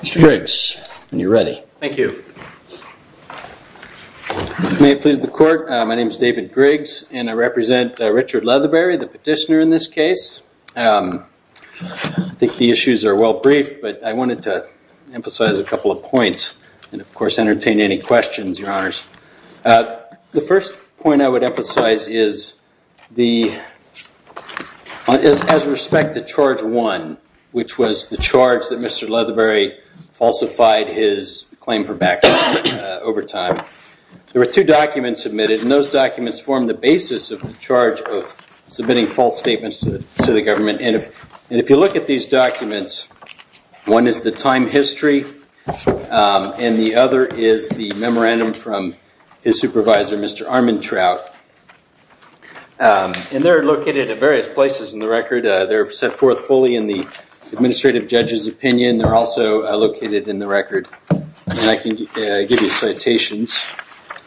Mr. Griggs, you're ready. Thank you. May it please the court, my name is David Griggs and I represent Richard Leatherbury, the petitioner in this case. I think the issues are well brief, but I wanted to emphasize a couple of points and of course entertain any questions, your honors. The first point I would emphasize is the, as respect to charge one, which was the charge that Mr. Leatherbury falsified his claim for bankruptcy over time, there were two documents submitted and those documents formed the basis of the charge of submitting false statements to the government. And if you look at these documents, one is the time history and the other is the memorandum from his supervisor, Mr. Armantrout. And they're located at various places in the record. They're set forth fully in the administrative judge's opinion. They're also located in the record. And I can give you citations.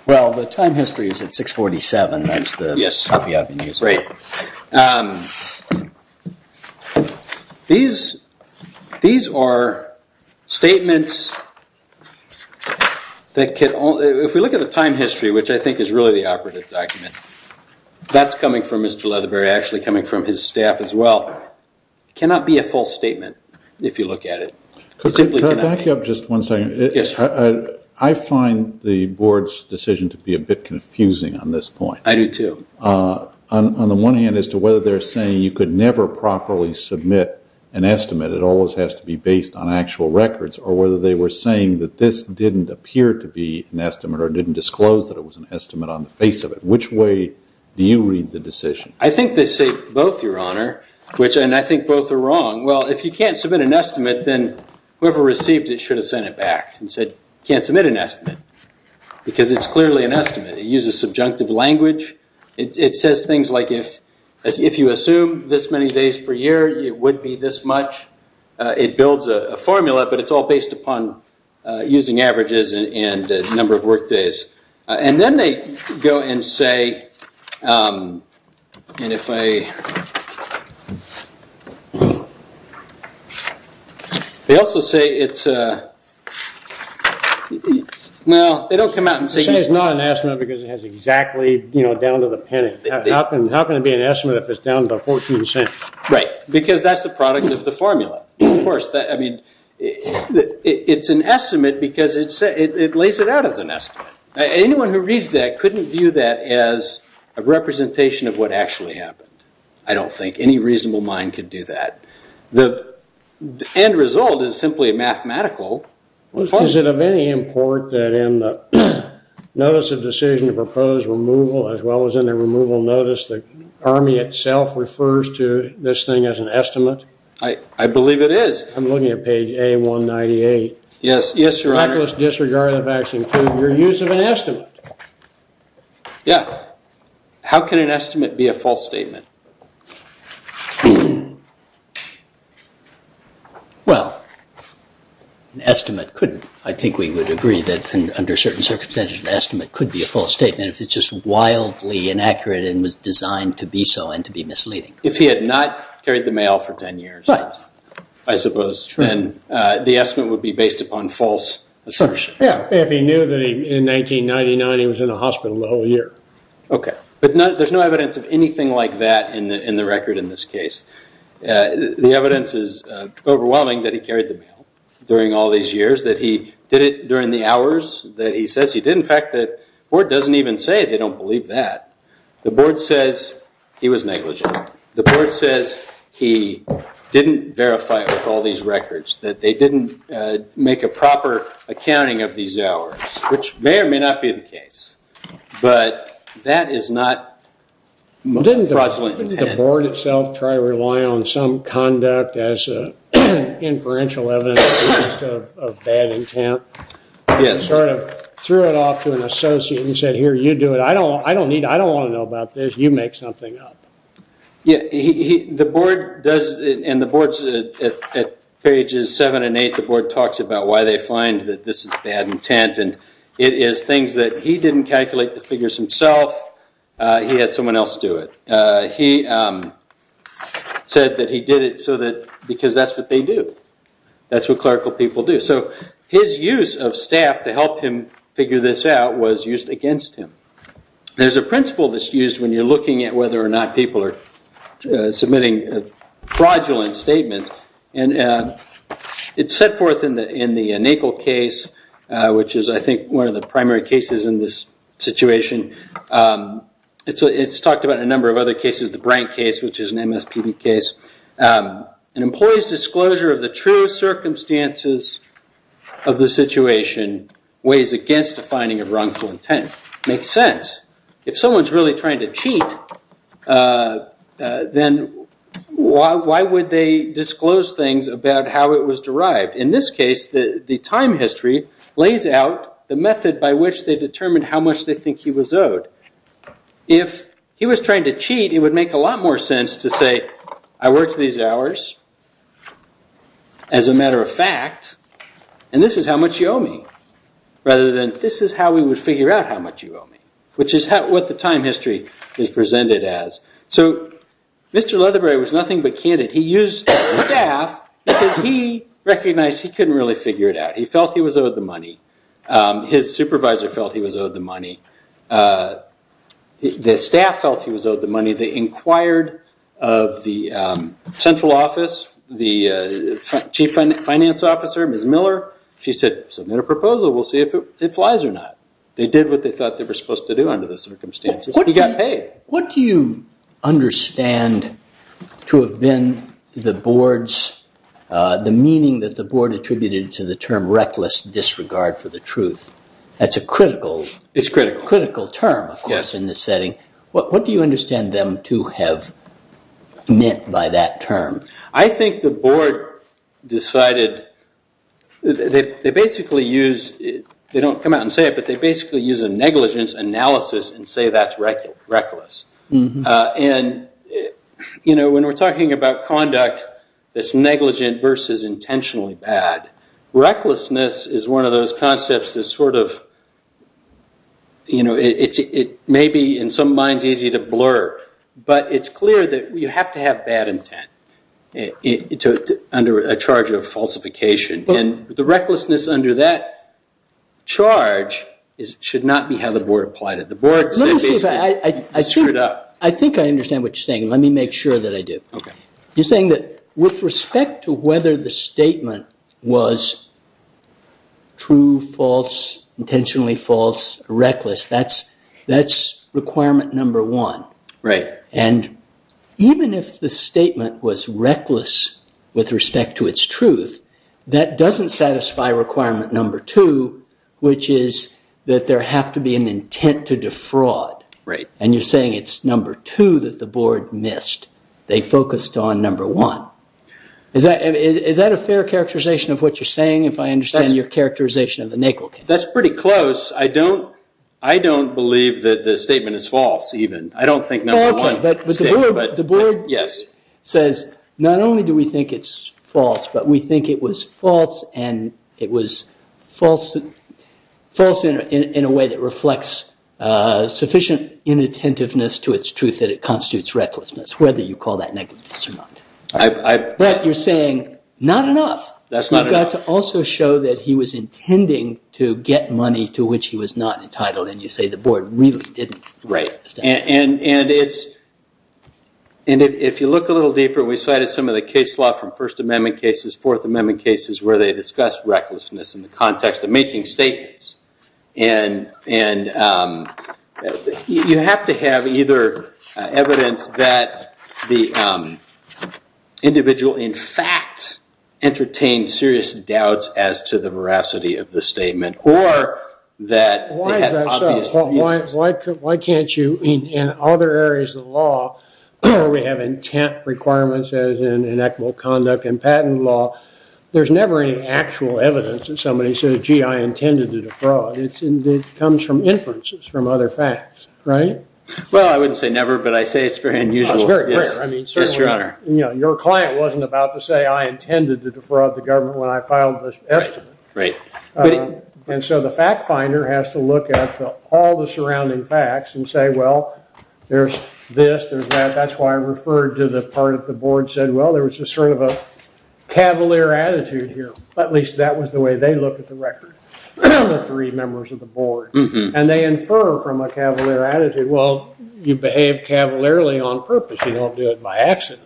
Well, the time history is at 647, that's the copy I've been using. These are statements, if we look at the time history, which I think is really the operative document, that's coming from Mr. Leatherbury, actually coming from his staff as well. It cannot be a false statement if you look at it. Could I back you up just one second? Yes. I find the board's decision to be a bit confusing on this point. I do too. On the one hand, as to whether they're saying you could never properly submit an estimate, it always has to be based on actual records, or whether they were saying that this didn't appear to be an estimate or didn't disclose that it was an estimate on the face of it. Which way do you read the decision? I think they say both, Your Honor. And I think both are wrong. Well, if you can't submit an estimate, then whoever received it should have sent it back and said, you can't submit an estimate, because it's clearly an estimate. It uses subjunctive language. It says things like if you assume this many days per year, it would be this much. It builds a formula, but it's all based upon using averages and the number of work days. And then they go and say, and if I, they also say it's, well, they don't come out and say. They say it's not an estimate because it has exactly down to the penny. How can it be an estimate if it's down to 14 cents? Right. Because that's the product of the formula. Of course, I mean, it's an estimate because it lays it out as an estimate. Anyone who reads that couldn't view that as a representation of what actually happened. I don't think any reasonable mind could do that. The end result is simply mathematical. Is it of any import that in the notice of decision to propose removal, as well as in the removal notice, the Army itself refers to this thing as an estimate? I believe it is. I'm looking at page A198. Yes, Your Honor. The miraculous disregard of the facts include your use of an estimate. Yes. How can an estimate be a false statement? Well, an estimate couldn't. I think we would agree that under certain circumstances, an estimate could be a false statement if it's just wildly inaccurate and was designed to be so and to be misleading. If he had not carried the mail. If he knew that in 1999 he was in the hospital the whole year. Okay. But there's no evidence of anything like that in the record in this case. The evidence is overwhelming that he carried the mail during all these years, that he did it during the hours that he says he did. In fact, the board doesn't even say they don't believe that. The board says he was negligent. The board says he didn't verify with all these records that they didn't make a proper accounting of these hours, which may or may not be the case. But that is not fraudulent. Didn't the board itself try to rely on some conduct as inferential evidence of bad intent? Yes. Sort of threw it off to an associate and said, here, you do it. I don't need, I don't want to know about this. You make something up. Yeah, he, the board does, and the boards at pages seven and eight, the board talks about why they find that this is bad intent. And it is things that he didn't calculate the figures himself. He had someone else do it. He said that he did it so that, because that's what they do. That's what clerical people do. So his use of staff to help him figure this out was used against him. There's a principle that's used when you're looking at whether or not people are submitting fraudulent statements. And it's set forth in the NACL case, which is, I think, one of the primary cases in this situation. It's talked about in a number of other cases, the Brank case, which is an MSPB case. An employee's disclosure of the true circumstances of the situation weighs against a finding of intent. If someone's really trying to cheat, then why would they disclose things about how it was derived? In this case, the time history lays out the method by which they determined how much they think he was owed. If he was trying to cheat, it would make a lot more sense to say, I worked these hours, as a matter of fact, and this is how much you owe me, rather than this is how we would figure out how much you owe me, which is what the time history is presented as. So Mr. Leatherbury was nothing but candid. He used staff because he recognized he couldn't really figure it out. He felt he was owed the money. His supervisor felt he was owed the money. The staff felt he was owed the money. They inquired of the central office, the chief finance officer, Ms. Miller. She said, submit a proposal. We'll see if it flies or not. They did what they thought they were supposed to do under the circumstances. He got paid. What do you understand to have been the board's, the meaning that the board attributed to the term reckless disregard for the truth? That's a critical, critical term, of course, in this setting. What do you understand them to have meant by that term? I think the board decided, they basically use, they don't come out and say it, but they basically use a negligence analysis and say that's reckless. When we're talking about conduct that's negligent versus intentionally bad, recklessness is one of those concepts that's sort of, it may be in some minds easy to blur, but it's clear that you have to have bad intent under a charge of falsification. The recklessness under that charge should not be how the board applied it. The board said basically you screwed up. I think I understand what you're saying. Let me make sure that I do. You're saying that with respect to whether the statement was reckless with respect to its truth, that doesn't satisfy requirement number two, which is that there have to be an intent to defraud. You're saying it's number two that the board missed. They focused on number one. Is that a fair characterization of what you're saying, if I understand your characterization of the negligence? That's pretty close. I don't believe that the statement is false even. I don't think number one. The board says not only do we think it's false, but we think it was false and it was false in a way that reflects sufficient inattentiveness to its truth that it constitutes recklessness, whether you call that negligence or not. But you're saying not enough. You've got to also show that he was intending to get money to which he was not entitled and you say the board really didn't. Right. And if you look a little deeper, we cited some of the case law from First Amendment cases, Fourth Amendment cases where they individual, in fact, entertained serious doubts as to the veracity of the statement or that they had obvious reasons. Why is that so? Why can't you, in other areas of the law, where we have intent requirements as in equitable conduct and patent law, there's never any actual evidence that somebody says, gee, I intended to defraud. It comes from inferences from other facts, right? Well, I wouldn't say never, but I say it's very unusual. It's very rare. I mean, certainly, your client wasn't about to say I intended to defraud the government when I filed this estimate. And so the fact finder has to look at all the surrounding facts and say, well, there's this, there's that. That's why I referred to the part of the board said, well, there was a sort of a cavalier attitude here. At least that was the way they look at the record, the three members of the board. And they infer from a cavalier attitude, well, you behave cavalierly on purpose. You don't do it by accident.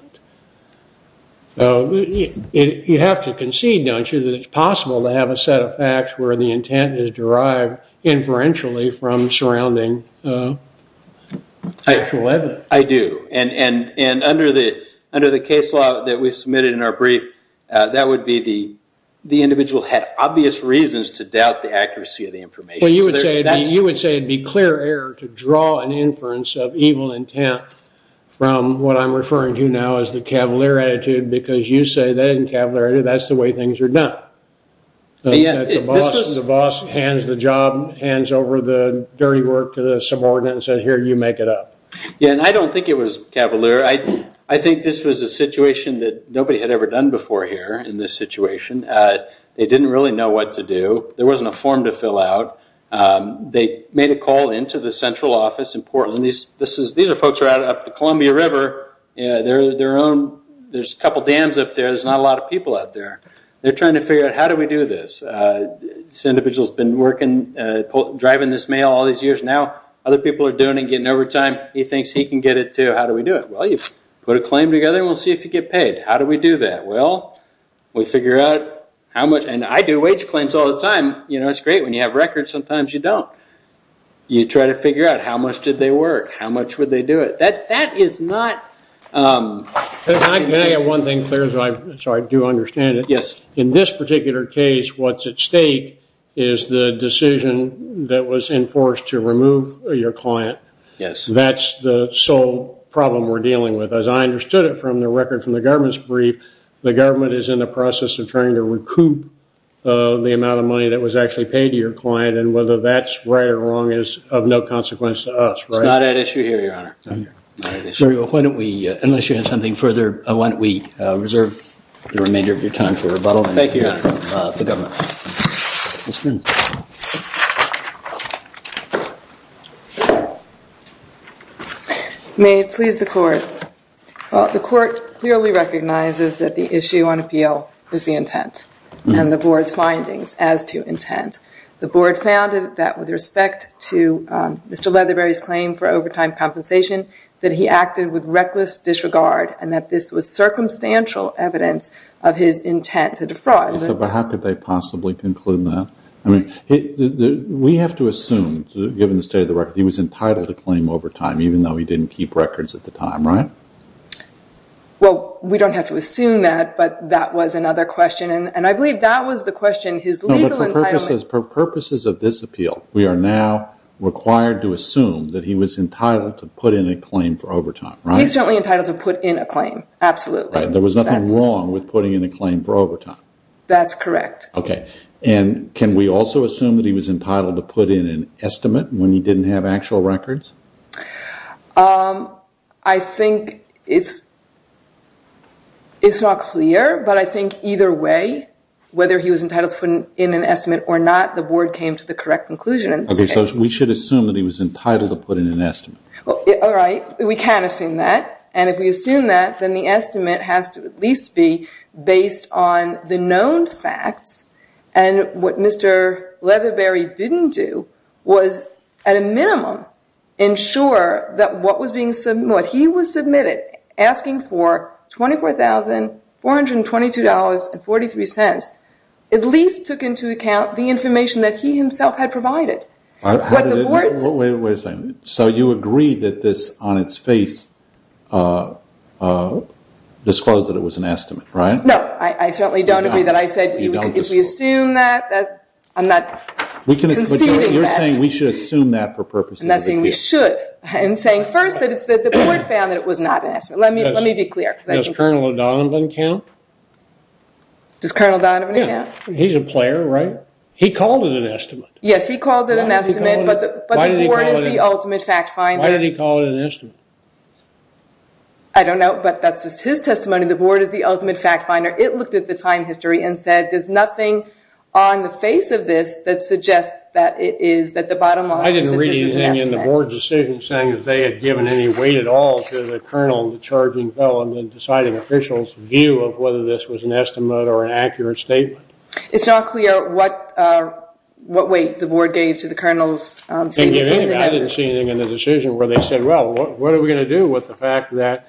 So you have to concede, don't you, that it's possible to have a set of facts where the intent is derived inferentially from surrounding actual evidence. I do. And under the case law that we submitted in our brief, that would be the individual had obvious reasons to doubt the accuracy of the information. You would say it'd be clear error to draw an inference of evil intent from what I'm referring to now as the cavalier attitude because you say that isn't cavalier, that's the way things are done. The boss hands the job, hands over the dirty work to the subordinate and says, here, you make it up. Yeah, and I don't think it was cavalier. I think this was a situation that nobody had ever done before here in this situation. They didn't really know what to do. There wasn't a form to they made a call into the central office in Portland. These are folks right up the Columbia River. There's a couple dams up there. There's not a lot of people out there. They're trying to figure out how do we do this. This individual's been driving this mail all these years now. Other people are doing it, getting overtime. He thinks he can get it too. How do we do it? Well, you put a claim together and we'll see if you get paid. How do we do that? Well, we figure out how much, and I do wage claims all the time. It's great when you have records sometimes you don't. You try to figure out how much did they work, how much would they do it. That is not... Can I get one thing clear so I do understand it? Yes. In this particular case, what's at stake is the decision that was enforced to remove your client. Yes. That's the sole problem we're dealing with. As I understood it from the record from the government's brief, the government is in the process of trying to recoup the amount of money that was actually paid to your client and whether that's right or wrong is of no consequence to us, right? It's not at issue here, Your Honor. Very well. Why don't we, unless you have something further, why don't we reserve the remainder of your time for rebuttal. Thank you, Your Honor. The government. Ms. Finn. May it please the court. The court clearly recognizes that the issue on appeal is the intent and the board's findings as to intent. The board found that with respect to Mr. Leatherberry's claim for overtime compensation that he acted with reckless disregard and that this was circumstantial evidence of his intent to defraud. But how could they possibly conclude that? I mean, we have to assume, given the state of the record, he was entitled to claim overtime even though he didn't keep records at the time, right? Well, we don't have to assume that but that was another question. And I believe that was the question, his legal entitlement. For purposes of this appeal, we are now required to assume that he was entitled to put in a claim for overtime, right? He's certainly entitled to put in a claim. Absolutely. There was nothing wrong with putting in a claim for overtime. That's correct. Okay. And can we also assume that he was entitled to put in an estimate when he didn't have actual records? I think it's not clear, but I think either way, whether he was entitled to put in an estimate or not, the board came to the correct conclusion. We should assume that he was entitled to put in an estimate. All right. We can assume that. And if we assume that, then the estimate has to at least be based on the known facts. And what Mr. Ensure, that what he was submitted asking for $24,422.43 at least took into account the information that he himself had provided. Wait a second. So you agree that this on its face disclosed that it was an estimate, right? No, I certainly don't agree that I said if we assume that, I'm not conceding that. But you're saying we should assume that and that's saying we should. And saying first that it's that the board found that it was not an estimate. Let me be clear. Does Colonel O'Donovan count? Does Colonel O'Donovan count? He's a player, right? He called it an estimate. Yes, he calls it an estimate, but the board is the ultimate fact finder. Why did he call it an estimate? I don't know, but that's just his testimony. The board is the ultimate fact finder. It looked at the time history and said there's nothing on the face of this that suggests that it is, that the bottom line is that this is an estimate. I didn't read anything in the board decision saying that they had given any weight at all to the colonel and the charging felon in deciding official's view of whether this was an estimate or an accurate statement. It's not clear what weight the board gave to the colonel's statement. I didn't see anything in the decision where they said well, what are we going to do with the fact that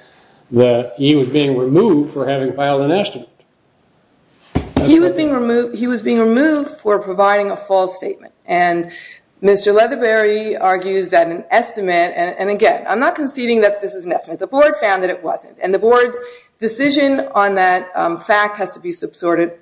he was being removed for having filed an estimate? He was being removed for providing a false statement, and Mr. Leatherberry argues that an estimate, and again, I'm not conceding that this is an estimate. The board found that it wasn't, and the board's decision on that fact has to be supported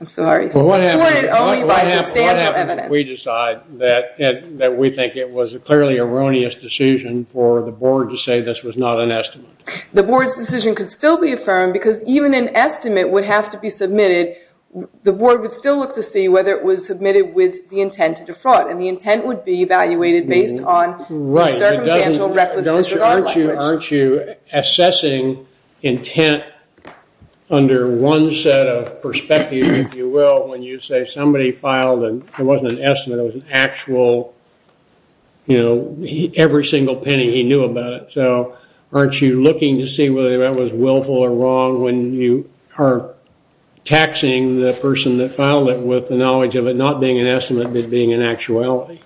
only by substantial evidence. What happens if we decide that we think it was a clearly erroneous decision for the board to say this was not an estimate? The board's decision could still be affirmed because even an estimate would have to be submitted, the board would still look to see whether it was submitted with the intent to defraud, and the intent would be evaluated based on the circumstantial recklessness. Aren't you assessing intent under one set of perspectives, if you will, when you say somebody filed and it wasn't an estimate, it was an actual, you know, every single penny he knew about it, aren't you looking to see whether that was willful or wrong when you are taxing the person that filed it with the knowledge of it not being an estimate, but being an actuality?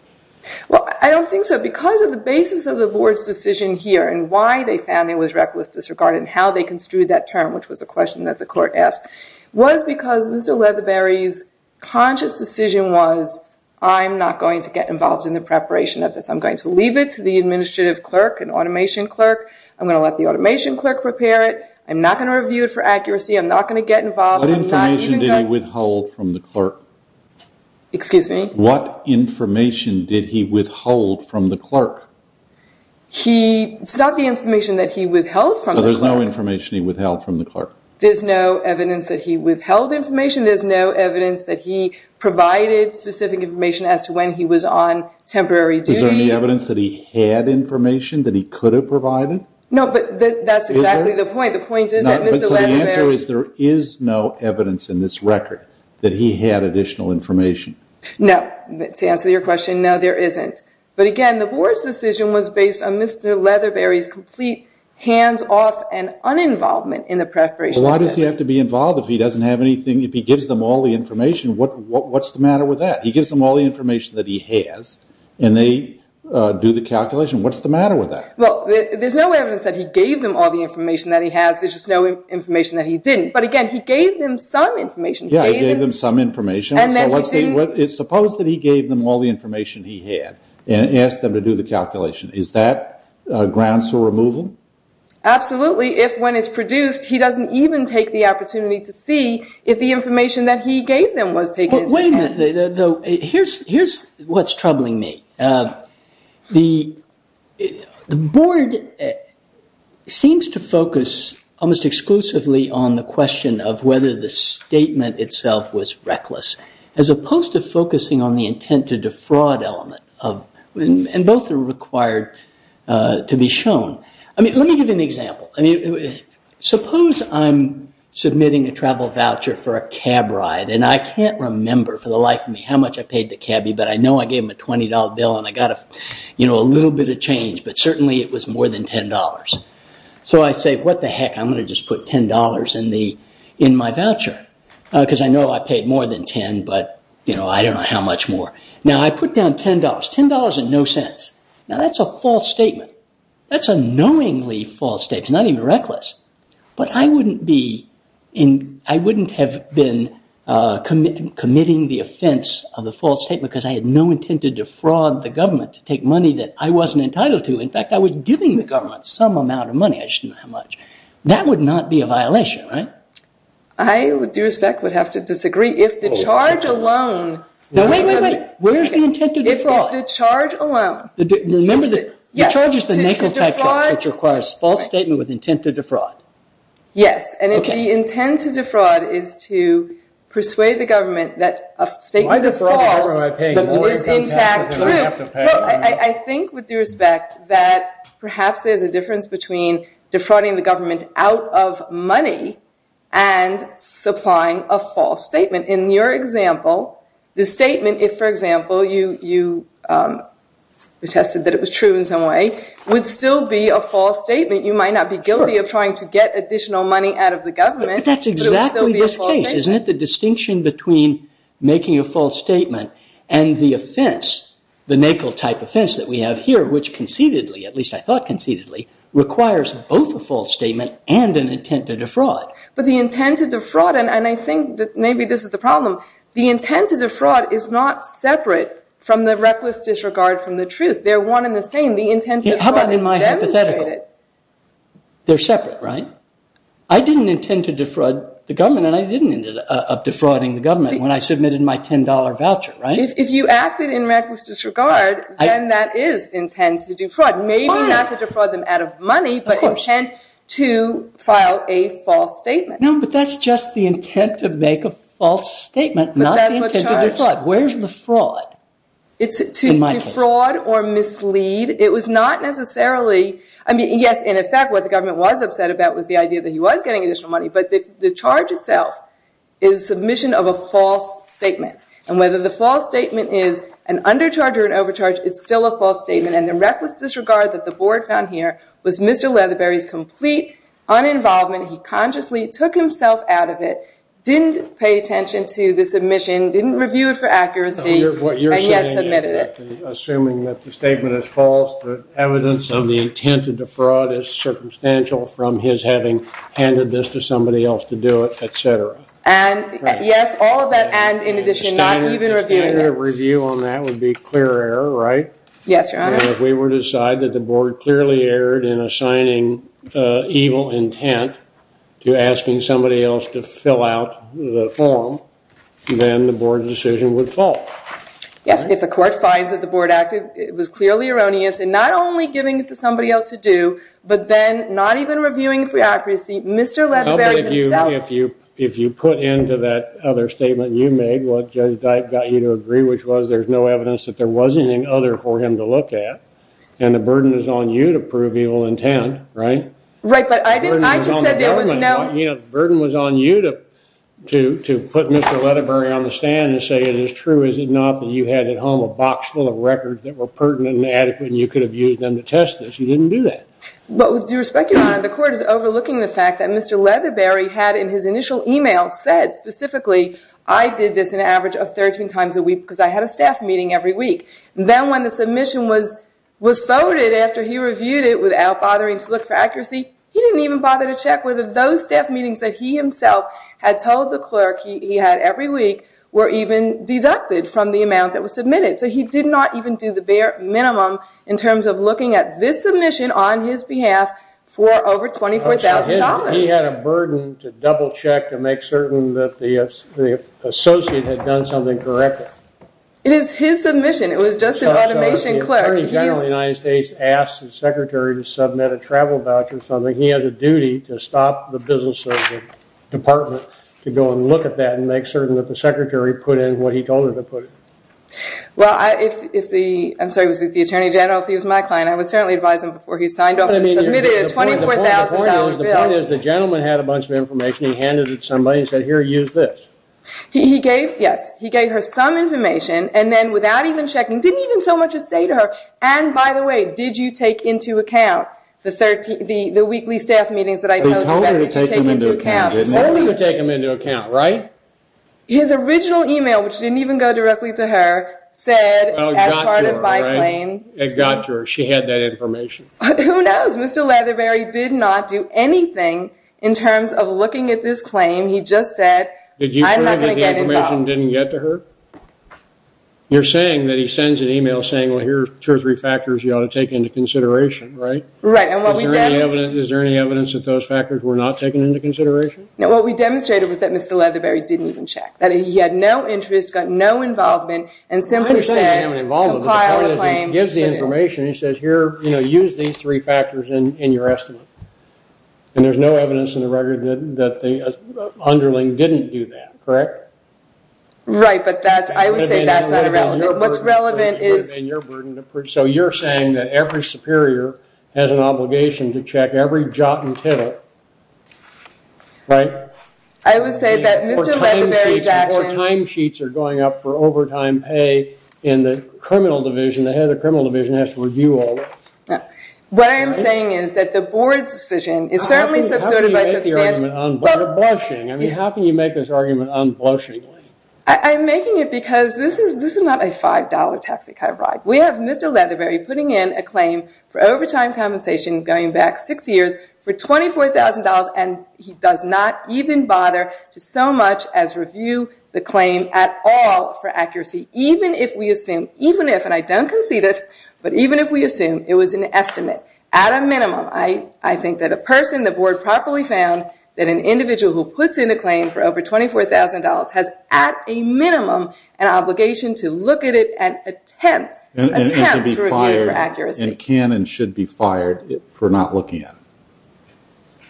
Well, I don't think so. Because of the basis of the board's decision here and why they found there was reckless disregard and how they construed that term, which was a question that the court asked, was because Mr. Leatherberry's conscious decision was, I'm not going to get involved in the preparation of this, I'm going to leave it to the administrative clerk and automation clerk, I'm going to let the automation clerk prepare it, I'm not going to review it for accuracy, I'm not going to get involved. What information did he withhold from the clerk? Excuse me? What information did he withhold from the clerk? He, it's not the information that he withheld from the clerk. So there's no information he withheld from the clerk? There's no evidence that he withheld information, there's no evidence that he provided specific information as to when he was on temporary duty. Is there any evidence that he had information that he could have provided? No, but that's exactly the point. The point is that Mr. Leatherberry... So the answer is there is no evidence in this record that he had additional information? No. To answer your question, no, there isn't. But again, the board's decision was based on Mr. Leatherberry's complete hands-off and uninvolvement in the preparation of this. But why does he have to be involved if he doesn't have anything, if he gives them all the information, what's the matter with that? He gives them all the information that he has and they do the calculation. What's the matter with that? Well, there's no evidence that he gave them all the information that he has, there's just no information that he didn't. But again, he gave them some information. Yeah, he gave them some information. And then he didn't... Suppose that he gave them all the information he had and asked them to do the calculation. Is that grounds for removal? Absolutely. If when it's produced, he doesn't even take the opportunity to see if the information that he gave them was taken into account. Though here's what's troubling me. The board seems to focus almost exclusively on the question of whether the statement itself was reckless, as opposed to focusing on the intent to defraud element. And both are required to be shown. I mean, let me give you an example. Suppose I'm submitting a travel voucher for a cab ride and I can't remember for the life of me how much I paid the cabbie, but I know I gave him a $20 bill and I got a little bit of change, but certainly it was more than $10. So I say, what the heck, I'm going to just put $10 in my voucher because I know I paid more than 10, but I don't know how much more. Now, I put down $10, $10 and no cents. Now, that's a false statement. That's a knowingly false statement. It's not even reckless. But I wouldn't have been committing the offense of a false statement because I had no intent to defraud the government to take money that I wasn't entitled to. In fact, I was giving the government some amount of money. I just didn't know how much. That would not be a violation, right? I, with due respect, would have to disagree. If the charge alone... No, wait, wait, wait. Where's the intent to defraud? The charge alone. Remember, the charge is the nasal type charge, which requires false statement with intent to defraud. Yes, and if the intent to defraud is to persuade the government that a statement is false, the more you're going to pay, the more you're going to have to pay. I think with due respect that perhaps there's a difference between defrauding the government out of money and supplying a false statement. In your example, the statement, if, for example, attested that it was true in some way, would still be a false statement. You might not be guilty of trying to get additional money out of the government, but it would still be a false statement. But that's exactly the case, isn't it? The distinction between making a false statement and the offense, the nasal type offense that we have here, which concededly, at least I thought concededly, requires both a false statement and an intent to defraud. But the intent to defraud, and I think that maybe this is the problem, the intent to defraud is not disregard from the truth. They're one and the same. The intent to defraud is demonstrated. How about in my hypothetical? They're separate, right? I didn't intend to defraud the government, and I didn't end up defrauding the government when I submitted my $10 voucher, right? If you acted in reckless disregard, then that is intent to defraud. Maybe not to defraud them out of money, but intent to file a false statement. No, but that's just the intent to make a false statement, not the intent to defraud. Where's the fraud? It's to defraud or mislead. It was not necessarily, I mean, yes, in effect, what the government was upset about was the idea that he was getting additional money, but the charge itself is submission of a false statement, and whether the false statement is an undercharge or an overcharge, it's still a false statement, and the reckless disregard that the board found here was Mr. Leatherberry's complete uninvolvement. He consciously took himself out of it, didn't pay attention to the submission, didn't review it for accuracy. What you're saying is, assuming that the statement is false, the evidence of the intent to defraud is circumstantial from his having handed this to somebody else to do it, etc. And yes, all of that, and in addition, not even reviewing it. A standard review on that would be clear error, right? Yes, your honor. And if we were to decide that the board clearly erred in assigning evil intent to asking somebody else to fill out the form, then the board's decision would fall. Yes, if the court finds that the board acted, it was clearly erroneous, and not only giving it to somebody else to do, but then not even reviewing for accuracy, Mr. Leatherberry himself... If you put into that other statement you made what Judge Dike got you to agree, which was there's no evidence that there was anything other for him to look at, and the burden is on you to prove evil intent, right? Right, but I didn't... I just said there was no... You know, the burden was on you to put Mr. Leatherberry on the stand and say, is it true, is it not, that you had at home a box full of records that were pertinent and adequate and you could have used them to test this? You didn't do that. But with due respect, your honor, the court is overlooking the fact that Mr. Leatherberry had, in his initial email, said specifically, I did this an average of 13 times a week because I had a staff meeting every week. Then when the submission was voted after he reviewed it without bothering to look for accuracy, he didn't even bother to check whether those staff meetings that he himself had told the clerk he had every week were even deducted from the amount that was submitted. So he did not even do the bare minimum in terms of looking at this submission on his behalf for over $24,000. He had a burden to double check to make certain that the associate had done something correctly. It is his submission. It was just an automation clerk. Attorney General of the United States asked the secretary to submit a travel voucher, he has a duty to stop the business department to go and look at that and make certain that the secretary put in what he told her to put in. Well, if the attorney general, if he was my client, I would certainly advise him before he signed up and submitted a $24,000 bill. The point is the gentleman had a bunch of information. He handed it to somebody and said, here, use this. Yes, he gave her some information and then without even checking, didn't even so much as say to her, and by the way, did you take into account the weekly staff meetings that I told you about? They told her to take them into account. They told her to take them into account, right? His original email, which didn't even go directly to her, said as part of my claim. It got to her. She had that information. Who knows? Mr. Leatherberry did not do anything in terms of looking at this claim. He just said, I'm not going to get involved. Did you think that the information didn't get to her? You're saying that he sends an email saying, well, here are two or three factors you ought to take into consideration, right? Right, and what we demonstrated... Is there any evidence that those factors were not taken into consideration? No, what we demonstrated was that Mr. Leatherberry didn't even check. That he had no interest, got no involvement, and simply said... I'm not saying he didn't have any involvement, but the point is he gives the information. He says, here, you know, use these three factors in your estimate. And there's no evidence in the record that the underling didn't do that, correct? Right, but that's, I would say that's not relevant. What's relevant is... So you're saying that every superior has an obligation to check every jot and tidbit, right? I would say that Mr. Leatherberry's actions... Before timesheets are going up for overtime pay in the criminal division, the head of the criminal division has to review all that. What I am saying is that the board's decision is certainly subsidized by substantial... How can you make the argument unblushing? I mean, how can you make this argument unblushing? I'm making it because this is not a $5 taxi-car ride. We have Mr. Leatherberry putting in a claim for overtime compensation going back six years for $24,000 and he does not even bother to so much as review the claim at all for accuracy, even if we assume, even if, and I don't concede it, but even if we assume it was an estimate. At a minimum, I think that a person the board properly found that an individual who puts in a claim for over $24,000 has, at a minimum, an obligation to look at it and attempt to review for accuracy. And can and should be fired for not looking at it.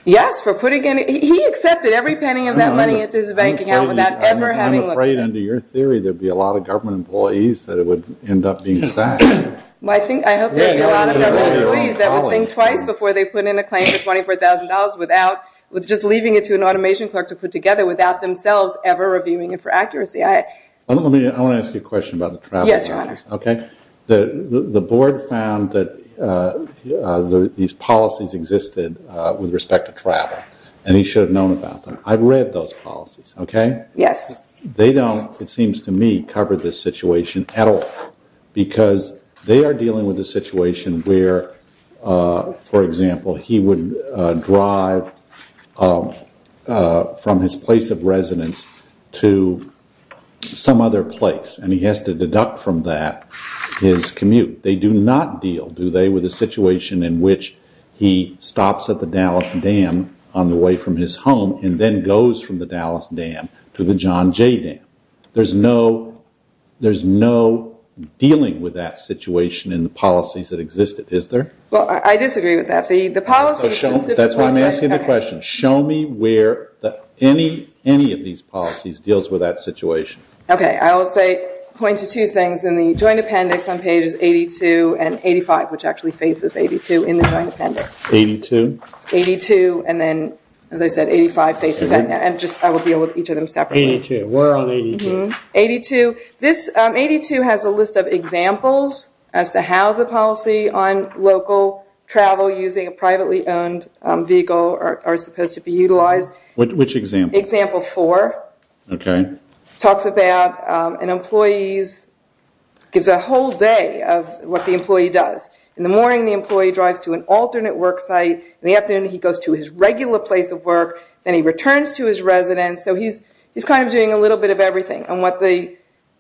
Yes, for putting in... He accepted every penny of that money into the bank account without ever having looked at it. I'm afraid under your theory, there'd be a lot of government employees that it would end up being sacked. I hope there'd be a lot of government employees that would think twice before they put in a claim, just leaving it to an automation clerk to put together without themselves ever reviewing it for accuracy. I want to ask you a question about the travel. Yes, Your Honor. Okay, the board found that these policies existed with respect to travel and he should have known about them. I've read those policies, okay? Yes. They don't, it seems to me, cover this situation at all because they are dealing with a situation where, for example, he would drive from his place of residence to some other place and he has to deduct from that his commute. They do not deal, do they, with a situation in which he stops at the Dallas Dam on the way from his home and then goes from the Dallas Dam to the John Jay Dam. There's no dealing with that situation in the policies that exist, is there? Well, I disagree with that. That's why I'm asking the question. Show me where any of these policies deals with that situation. Okay, I will point to two things in the joint appendix on pages 82 and 85, which actually faces 82 in the joint appendix. 82? 82 and then, as I said, 85 faces, and I will deal with each of them separately. We're on 82. 82 has a list of examples as to how the policy on local travel using a privately owned vehicle are supposed to be utilized. Which example? Example four. Okay. Talks about an employee's, gives a whole day of what the employee does. In the morning, the employee drives to an alternate work site. In the afternoon, he goes to his regular place of work. Then he returns to his residence. He's doing a little bit of everything.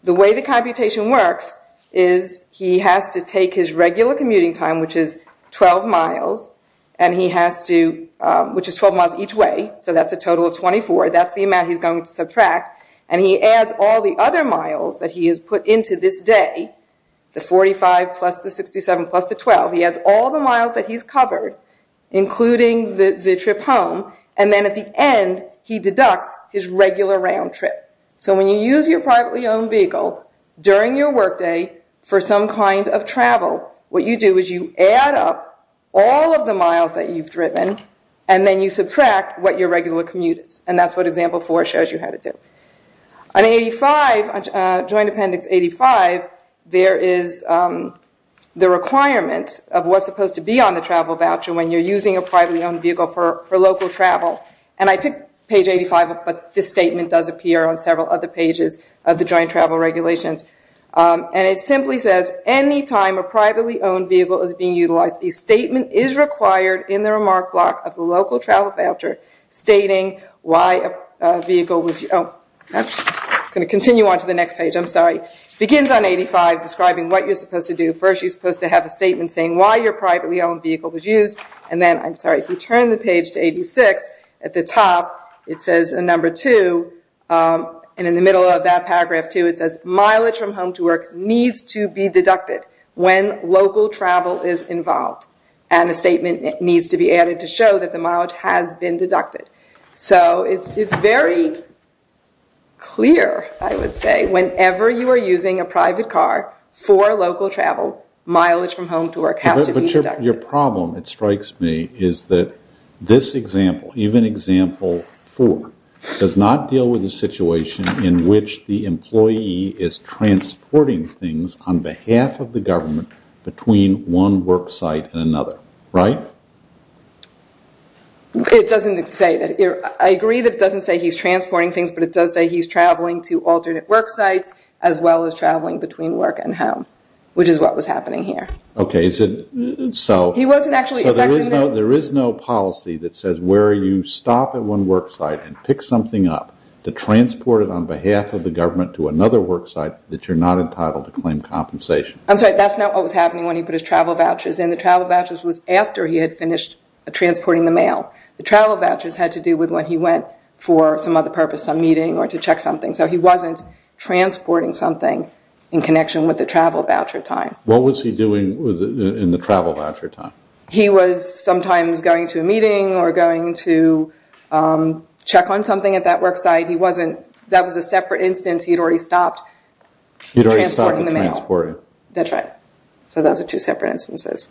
The way the computation works is he has to take his regular commuting time, which is 12 miles, which is 12 miles each way, so that's a total of 24. That's the amount he's going to subtract. He adds all the other miles that he has put into this day, the 45 plus the 67 plus the 12. He adds all the miles that he's covered, including the trip home. Then at the end, he deducts his regular round trip. So when you use your privately owned vehicle during your workday for some kind of travel, what you do is you add up all of the miles that you've driven, and then you subtract what your regular commute is. That's what example four shows you how to do. On 85, joint appendix 85, there is the requirement of what's supposed to be on the travel voucher when you're using a privately owned vehicle for local travel. I picked page 85, but this statement does appear on several other pages of the joint travel regulations. It simply says, anytime a privately owned vehicle is being utilized, a statement is required in the remark block of the local travel voucher stating why a vehicle was used. I'm going to continue on to the next page. I'm sorry. It begins on 85, describing what you're supposed to do. First, you're supposed to have a statement saying why your privately owned vehicle was used. And then, I'm sorry, if you turn the page to 86, at the top, it says a number two, and in the middle of that paragraph two, it says mileage from home to work needs to be deducted when local travel is involved. And a statement needs to be added to show that the mileage has been deducted. So it's very clear, I would say, whenever you are using a private car for local travel, mileage from home to work has to be deducted. Your problem, it strikes me, is that this example, even example four, does not deal with the situation in which the employee is transporting things on behalf of the government between one work site and another, right? It doesn't say that. I agree that it doesn't say he's transporting things, but it does say he's traveling to alternate work sites, as well as traveling between work and home, which is what was happening here. Okay, so there is no policy that says where you stop at one work site and pick something up to transport it on behalf of the government to another work site that you're not entitled to claim compensation. I'm sorry, that's not what was happening when he put his travel vouchers in. The travel vouchers was after he had finished transporting the mail. The travel vouchers had to do with when he went for some other purpose, some meeting, or to check something. So he wasn't transporting something in connection with the travel voucher time. What was he doing in the travel voucher time? He was sometimes going to a meeting or going to check on something at that work site. That was a separate instance. He had already stopped transporting the mail. That's right. So those are two separate instances.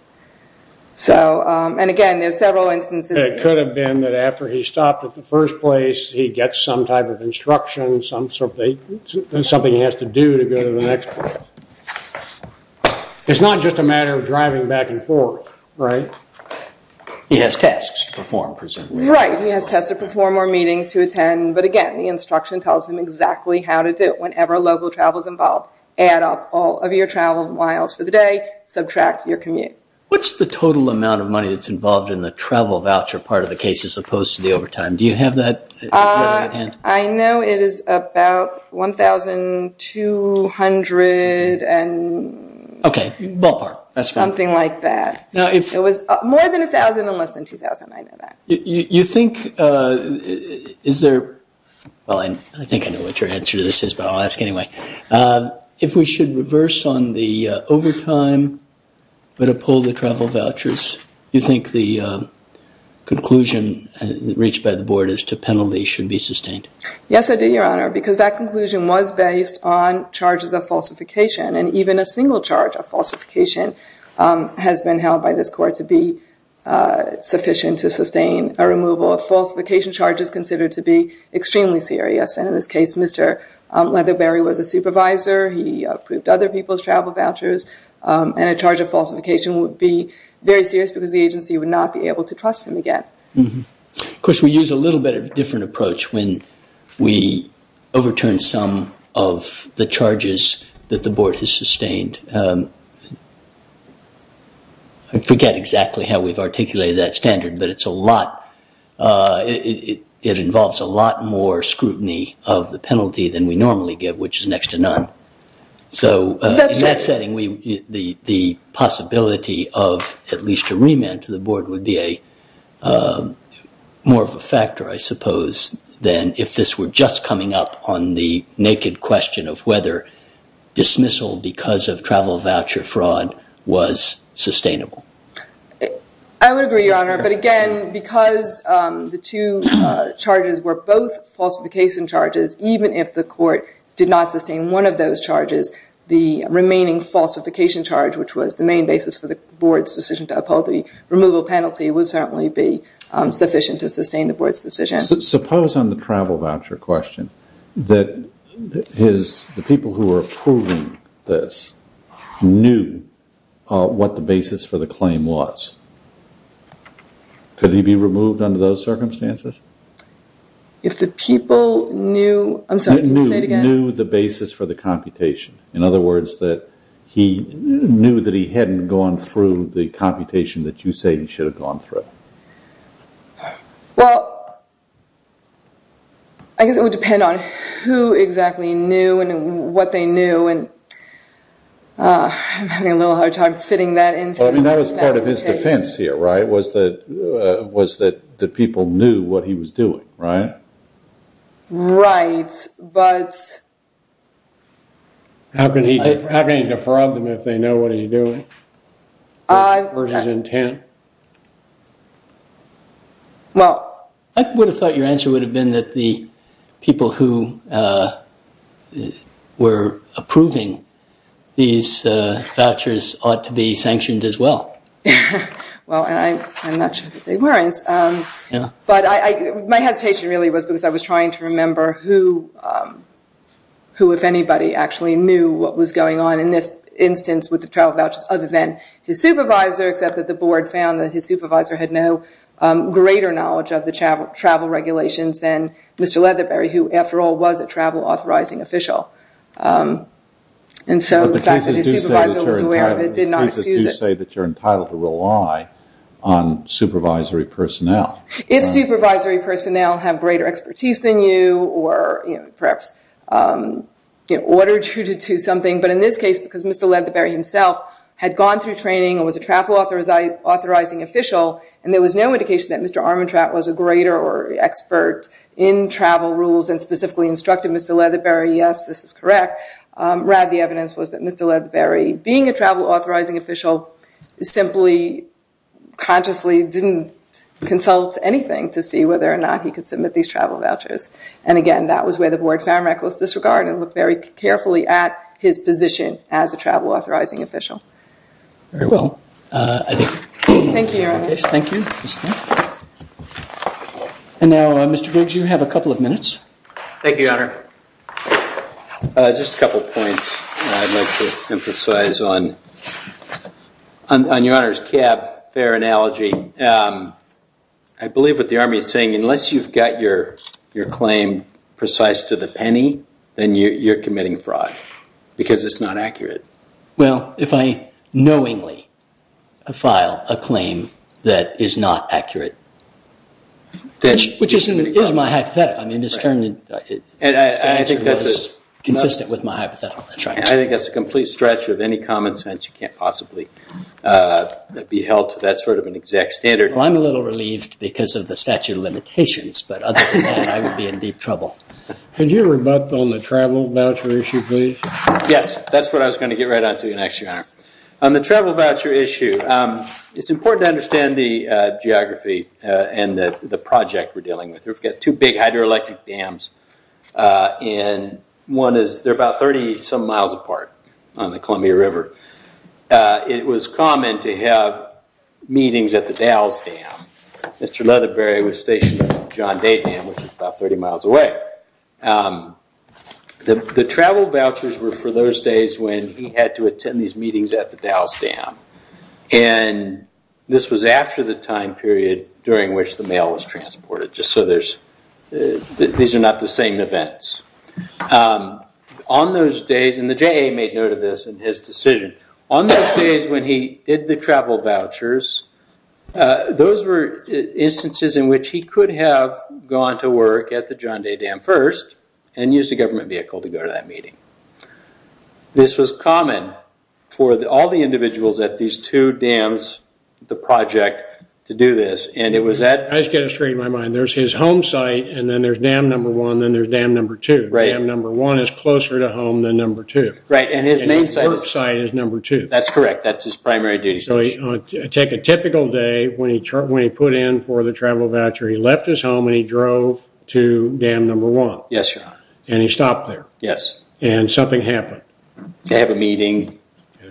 And again, there's several instances. It could have been that after he stopped at the first place, he gets some type of instruction, something he has to do to go to the next place. It's not just a matter of driving back and forth, right? He has tasks to perform, presumably. Right. He has tasks to perform or meetings to attend. But again, the instruction tells him exactly how to do it whenever local travel is involved. Add up all of your travel miles for the day. Subtract your commute. What's the total amount of money that's involved in the travel voucher part of the case as opposed to the overtime? Do you have that? I know it is about $1,200 and... OK. Ballpark. That's fine. Something like that. Now, if... It was more than $1,000 and less than $2,000. I know that. You think... Is there... Well, I think I know what your answer to this is, but I'll ask anyway. If we should reverse on the overtime but uphold the travel vouchers, you think the conclusion reached by the Board as to penalty should be sustained? Yes, I do, Your Honor, because that conclusion was based on falsification has been held by this court to be sufficient to sustain a removal of falsification charges considered to be extremely serious. And in this case, Mr. Leatherberry was a supervisor. He approved other people's travel vouchers and a charge of falsification would be very serious because the agency would not be able to trust him again. Of course, we use a little bit of a different approach when we overturn some of the charges that the Board has sustained. I forget exactly how we've articulated that standard, but it's a lot... It involves a lot more scrutiny of the penalty than we normally get, which is next to none. So in that setting, the possibility of at least a remand to the Board would be more of a factor, I suppose, than if this were just coming up on the dismissal because of travel voucher fraud was sustainable. I would agree, Your Honor. But again, because the two charges were both falsification charges, even if the court did not sustain one of those charges, the remaining falsification charge, which was the main basis for the Board's decision to uphold the removal penalty would certainly be sufficient to sustain the Board's decision. Suppose on the travel voucher question that the people who were approving this knew what the basis for the claim was. Could he be removed under those circumstances? If the people knew... I'm sorry, can you say it again? Knew the basis for the computation. In other words, that he knew that he hadn't gone through the computation that you say he should have gone through. Well, I guess it would depend on who exactly knew and what they knew. And I'm having a little hard time fitting that into... I mean, that was part of his defense here, right, was that the people knew what he was doing, right? Right, but... How can he defraud them if they know what he's doing? Versus intent? Well... I would have thought your answer would have been that the people who were approving these vouchers ought to be sanctioned as well. Well, and I'm not sure that they weren't, but my hesitation really was because I was trying to remember who, if anybody, actually knew what was going on in this instance with travel vouchers other than his supervisor, except that the board found that his supervisor had no greater knowledge of the travel regulations than Mr. Leatherberry, who, after all, was a travel authorizing official. And so the fact that his supervisor was aware of it did not excuse it. But the cases do say that you're entitled to rely on supervisory personnel. If supervisory personnel have greater expertise than you or perhaps ordered you to do something, but in this case, because Mr. Leatherberry himself had gone through training and was a travel authorizing official, and there was no indication that Mr. Armantrout was a greater or expert in travel rules and specifically instructed Mr. Leatherberry, yes, this is correct, rather the evidence was that Mr. Leatherberry, being a travel authorizing official, simply consciously didn't consult anything to see whether or not he could submit these travel vouchers. And again, that was where the board found reckless disregard and looked very carefully at his position as a travel authorizing official. Very well. Thank you, Your Honor. Thank you. And now, Mr. Briggs, you have a couple of minutes. Thank you, Your Honor. Just a couple of points I'd like to emphasize on Your Honor's cab fare analogy. I believe what the Army is saying, unless you've got your claim precise to the penny, then you're committing fraud because it's not accurate. Well, if I knowingly file a claim that is not accurate, which is my hypothetical, I mean, it's turned consistent with my hypothetical. I think that's a complete stretch of any common sense. You can't possibly be held to that sort of an exact standard. Well, I'm a little relieved because of the statute of limitations, but other than that, I would be in deep trouble. Could you rebut on the travel voucher issue, please? Yes, that's what I was going to get right on to you next, Your Honor. On the travel voucher issue, it's important to understand the geography and the project we're dealing with. We've got two big hydroelectric dams, and one is they're about 30-some miles apart on the Columbia River. It was common to have meetings at the Dalles Dam. Mr. Leatherberry was stationed at John Day Dam, which is about 30 miles away. The travel vouchers were for those days when he had to attend these meetings at the Dalles Dam, and this was after the time period during which the mail was transported, just so these are not the same events. On those days, and the JA made note of this in his decision, on those days when he did the travel vouchers, those were instances in which he could have gone to work at the John Day Dam first and used a government vehicle to go to that meeting. This was common for all the individuals at these two dams, the project, to do this, and it was at... I just got it straight in my mind. There's his home site, and then there's dam number one, then there's dam number two. Right. Dam number one is closer to home than number two. Right, and his main site... And his work site is number two. That's correct. That's his primary duty. Take a typical day, when he put in for the travel voucher, he left his home and he drove to dam number one. Yes, your honor. And he stopped there. Yes. And something happened. They have a meeting,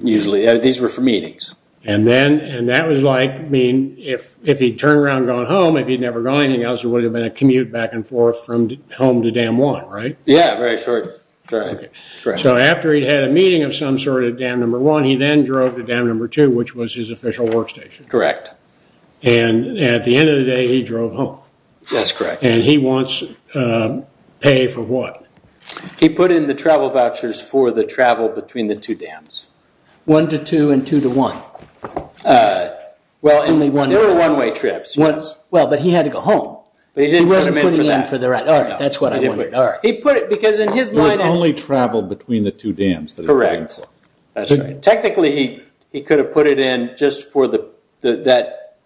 usually. These were for meetings. And then, and that was like, I mean, if he'd turned around and gone home, if he'd never gone anything else, it would have been a commute back and forth from home to dam one, right? Yeah, very short. So after he'd had a meeting of some sort at dam number one, he then drove to dam number two, which was his official workstation. Correct. And at the end of the day, he drove home. That's correct. And he wants pay for what? He put in the travel vouchers for the travel between the two dams. One to two and two to one. Well, there were one-way trips. Well, but he had to go home. But he didn't put them in for that. He wasn't putting in for the right... All right, that's what I wanted, all right. He put it, because in his mind... It was only travel between the two dams that he put in for. Correct, that's right. Technically, he could have put it in just for that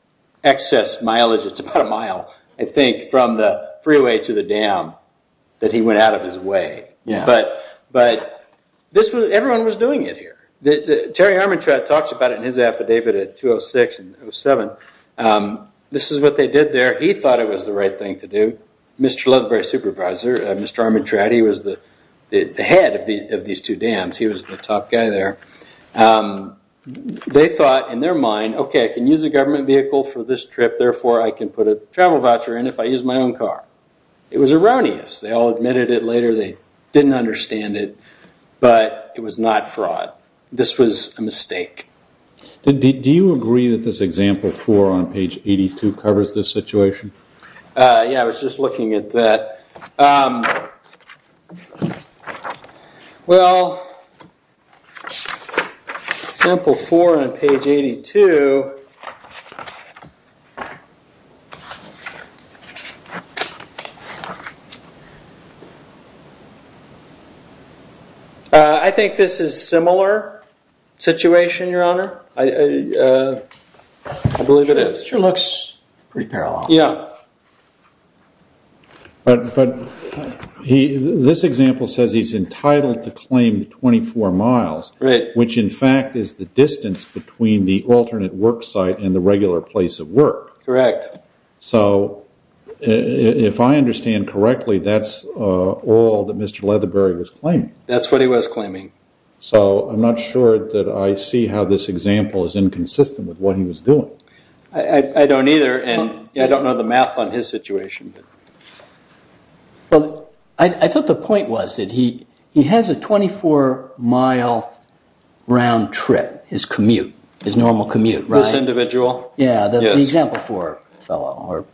excess mileage. It's about a mile, I think, from the freeway to the dam that he went out of his way. But everyone was doing it here. Terry Armantrout talks about it in his affidavit at 206 and 207. This is what they did there. He thought it was the right thing to do. Mr. Ludbury, supervisor, Mr. Armantrout, he was the head of these two dams. He was the top guy there. They thought in their mind, okay, I can use a government vehicle for this trip. Therefore, I can put a travel voucher in if I use my own car. It was erroneous. They all admitted it later. They didn't understand it, but it was not fraud. This was a mistake. Do you agree that this example four on page 82 covers this situation? Yeah, I was just looking at that. Well, example four on page 82, I think this is a similar situation, Your Honor, I believe it is. It sure looks pretty parallel. Yeah. But this example says he's entitled to claim 24 miles, which in fact is the distance between the alternate work site and the regular place of work. Correct. So if I understand correctly, that's all that Mr. Leatherbury was claiming. That's what he was claiming. So I'm not sure that I see how this example is inconsistent with what he was doing. I don't either, and I don't know the math on his situation. Well, I thought the point was that he has a 24-mile round trip, his commute, his normal commute, right? This individual? Yeah, the example four fellow.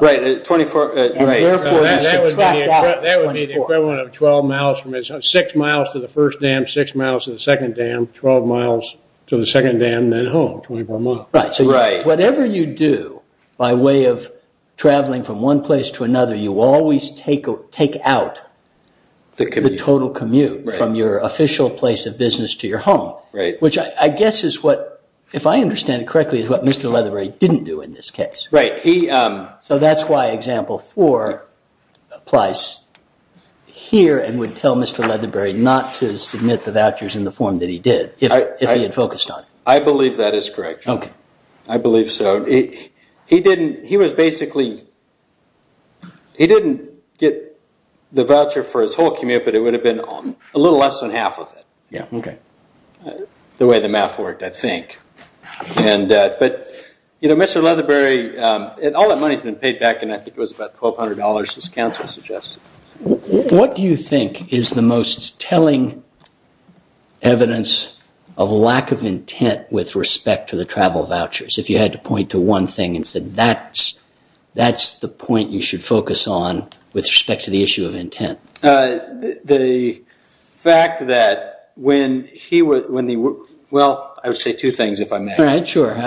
Right. That would be the equivalent of 12 miles from six miles to the first dam, six miles to the second dam, 12 miles to the second dam, then home, 24 miles. Whatever you do by way of traveling from one place to another, you always take out the total commute from your official place of business to your home, which I guess is what, if I understand it correctly, is what Mr. Leatherbury didn't do in this case. Right. So that's why example four applies here and would tell Mr. Leatherbury not to submit the vouchers in the form that he did if he had focused on it. I believe that is correct. I believe so. He didn't, he was basically, he didn't get the voucher for his whole commute, but it would have been a little less than half of it. Yeah, okay. The way the math worked, I think. But, you know, Mr. Leatherbury, all that money has been paid back, and I think it was about $1,200, as counsel suggested. What do you think is the most telling evidence of lack of intent with respect to the travel vouchers, if you had to point to one thing and said that's the point you should focus on with respect to the issue of intent? The fact that when he was, well, I would say two things, if I may. All right, sure. Part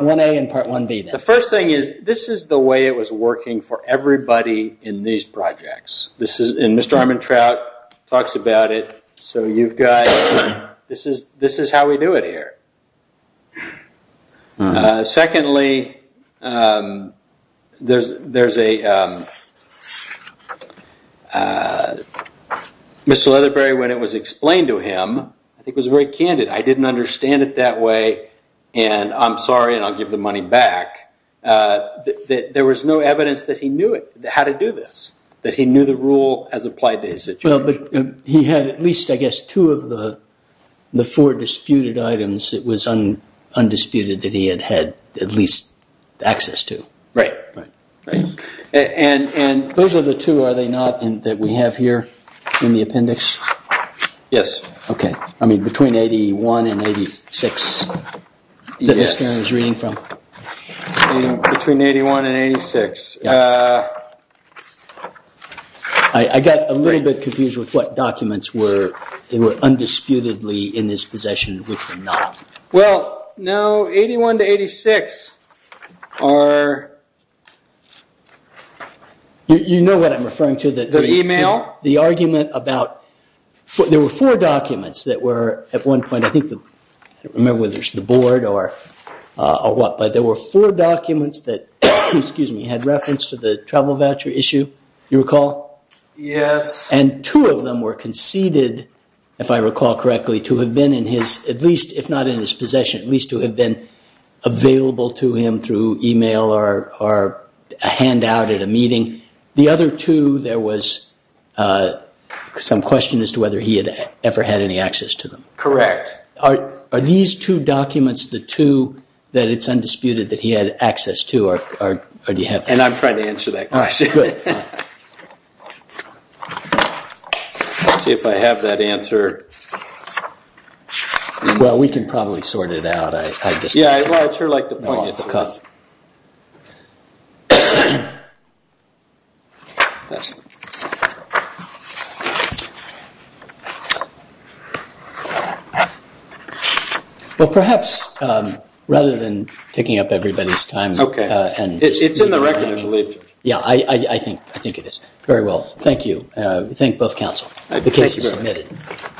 1A and Part 1B. The first thing is, this is the way it was working for everybody in these projects. And Mr. Armantrout talks about it. So you've got, this is how we do it here. Secondly, there's a, Mr. Leatherbury, when it was explained to him, I think was very candid. I didn't understand it that way, and I'm sorry, and I'll give the money back. That there was no evidence that he knew how to do this, that he knew the rule as applied to his situation. Well, but he had at least, I guess, two of the four disputed items. It was undisputed that he had had at least access to. Right. And those are the two, are they not, that we have here in the appendix? Yes. OK. I mean, between 81 and 86 that Mr. Armantrout was reading from? Between 81 and 86. I got a little bit confused with what documents were, they were undisputedly in his possession, which were not. Well, no, 81 to 86 are. You know what I'm referring to. The email? The argument about, there were four documents that were at one point, I think, I don't remember whether it's the board or what, but there were four documents that, excuse me, had reference to the travel voucher issue. You recall? Yes. And two of them were conceded, if I recall correctly, to have been in his, at least if not in his possession, at least to have been available to him through email or a handout at a meeting. The other two, there was some question as to whether he had ever had any access to them. Correct. Are these two documents, the two that it's undisputed that he had access to, or do you have? And I'm trying to answer that question. Good. Let's see if I have that answer. Well, we can probably sort it out. I just... Yeah, well, I'd sure like to point you to it. No off the cuff. Well, perhaps rather than taking up everybody's time... Okay. It's in the record, I believe. Yeah, I think it is. Very well. Thank you. Thank both counsel. The case is submitted.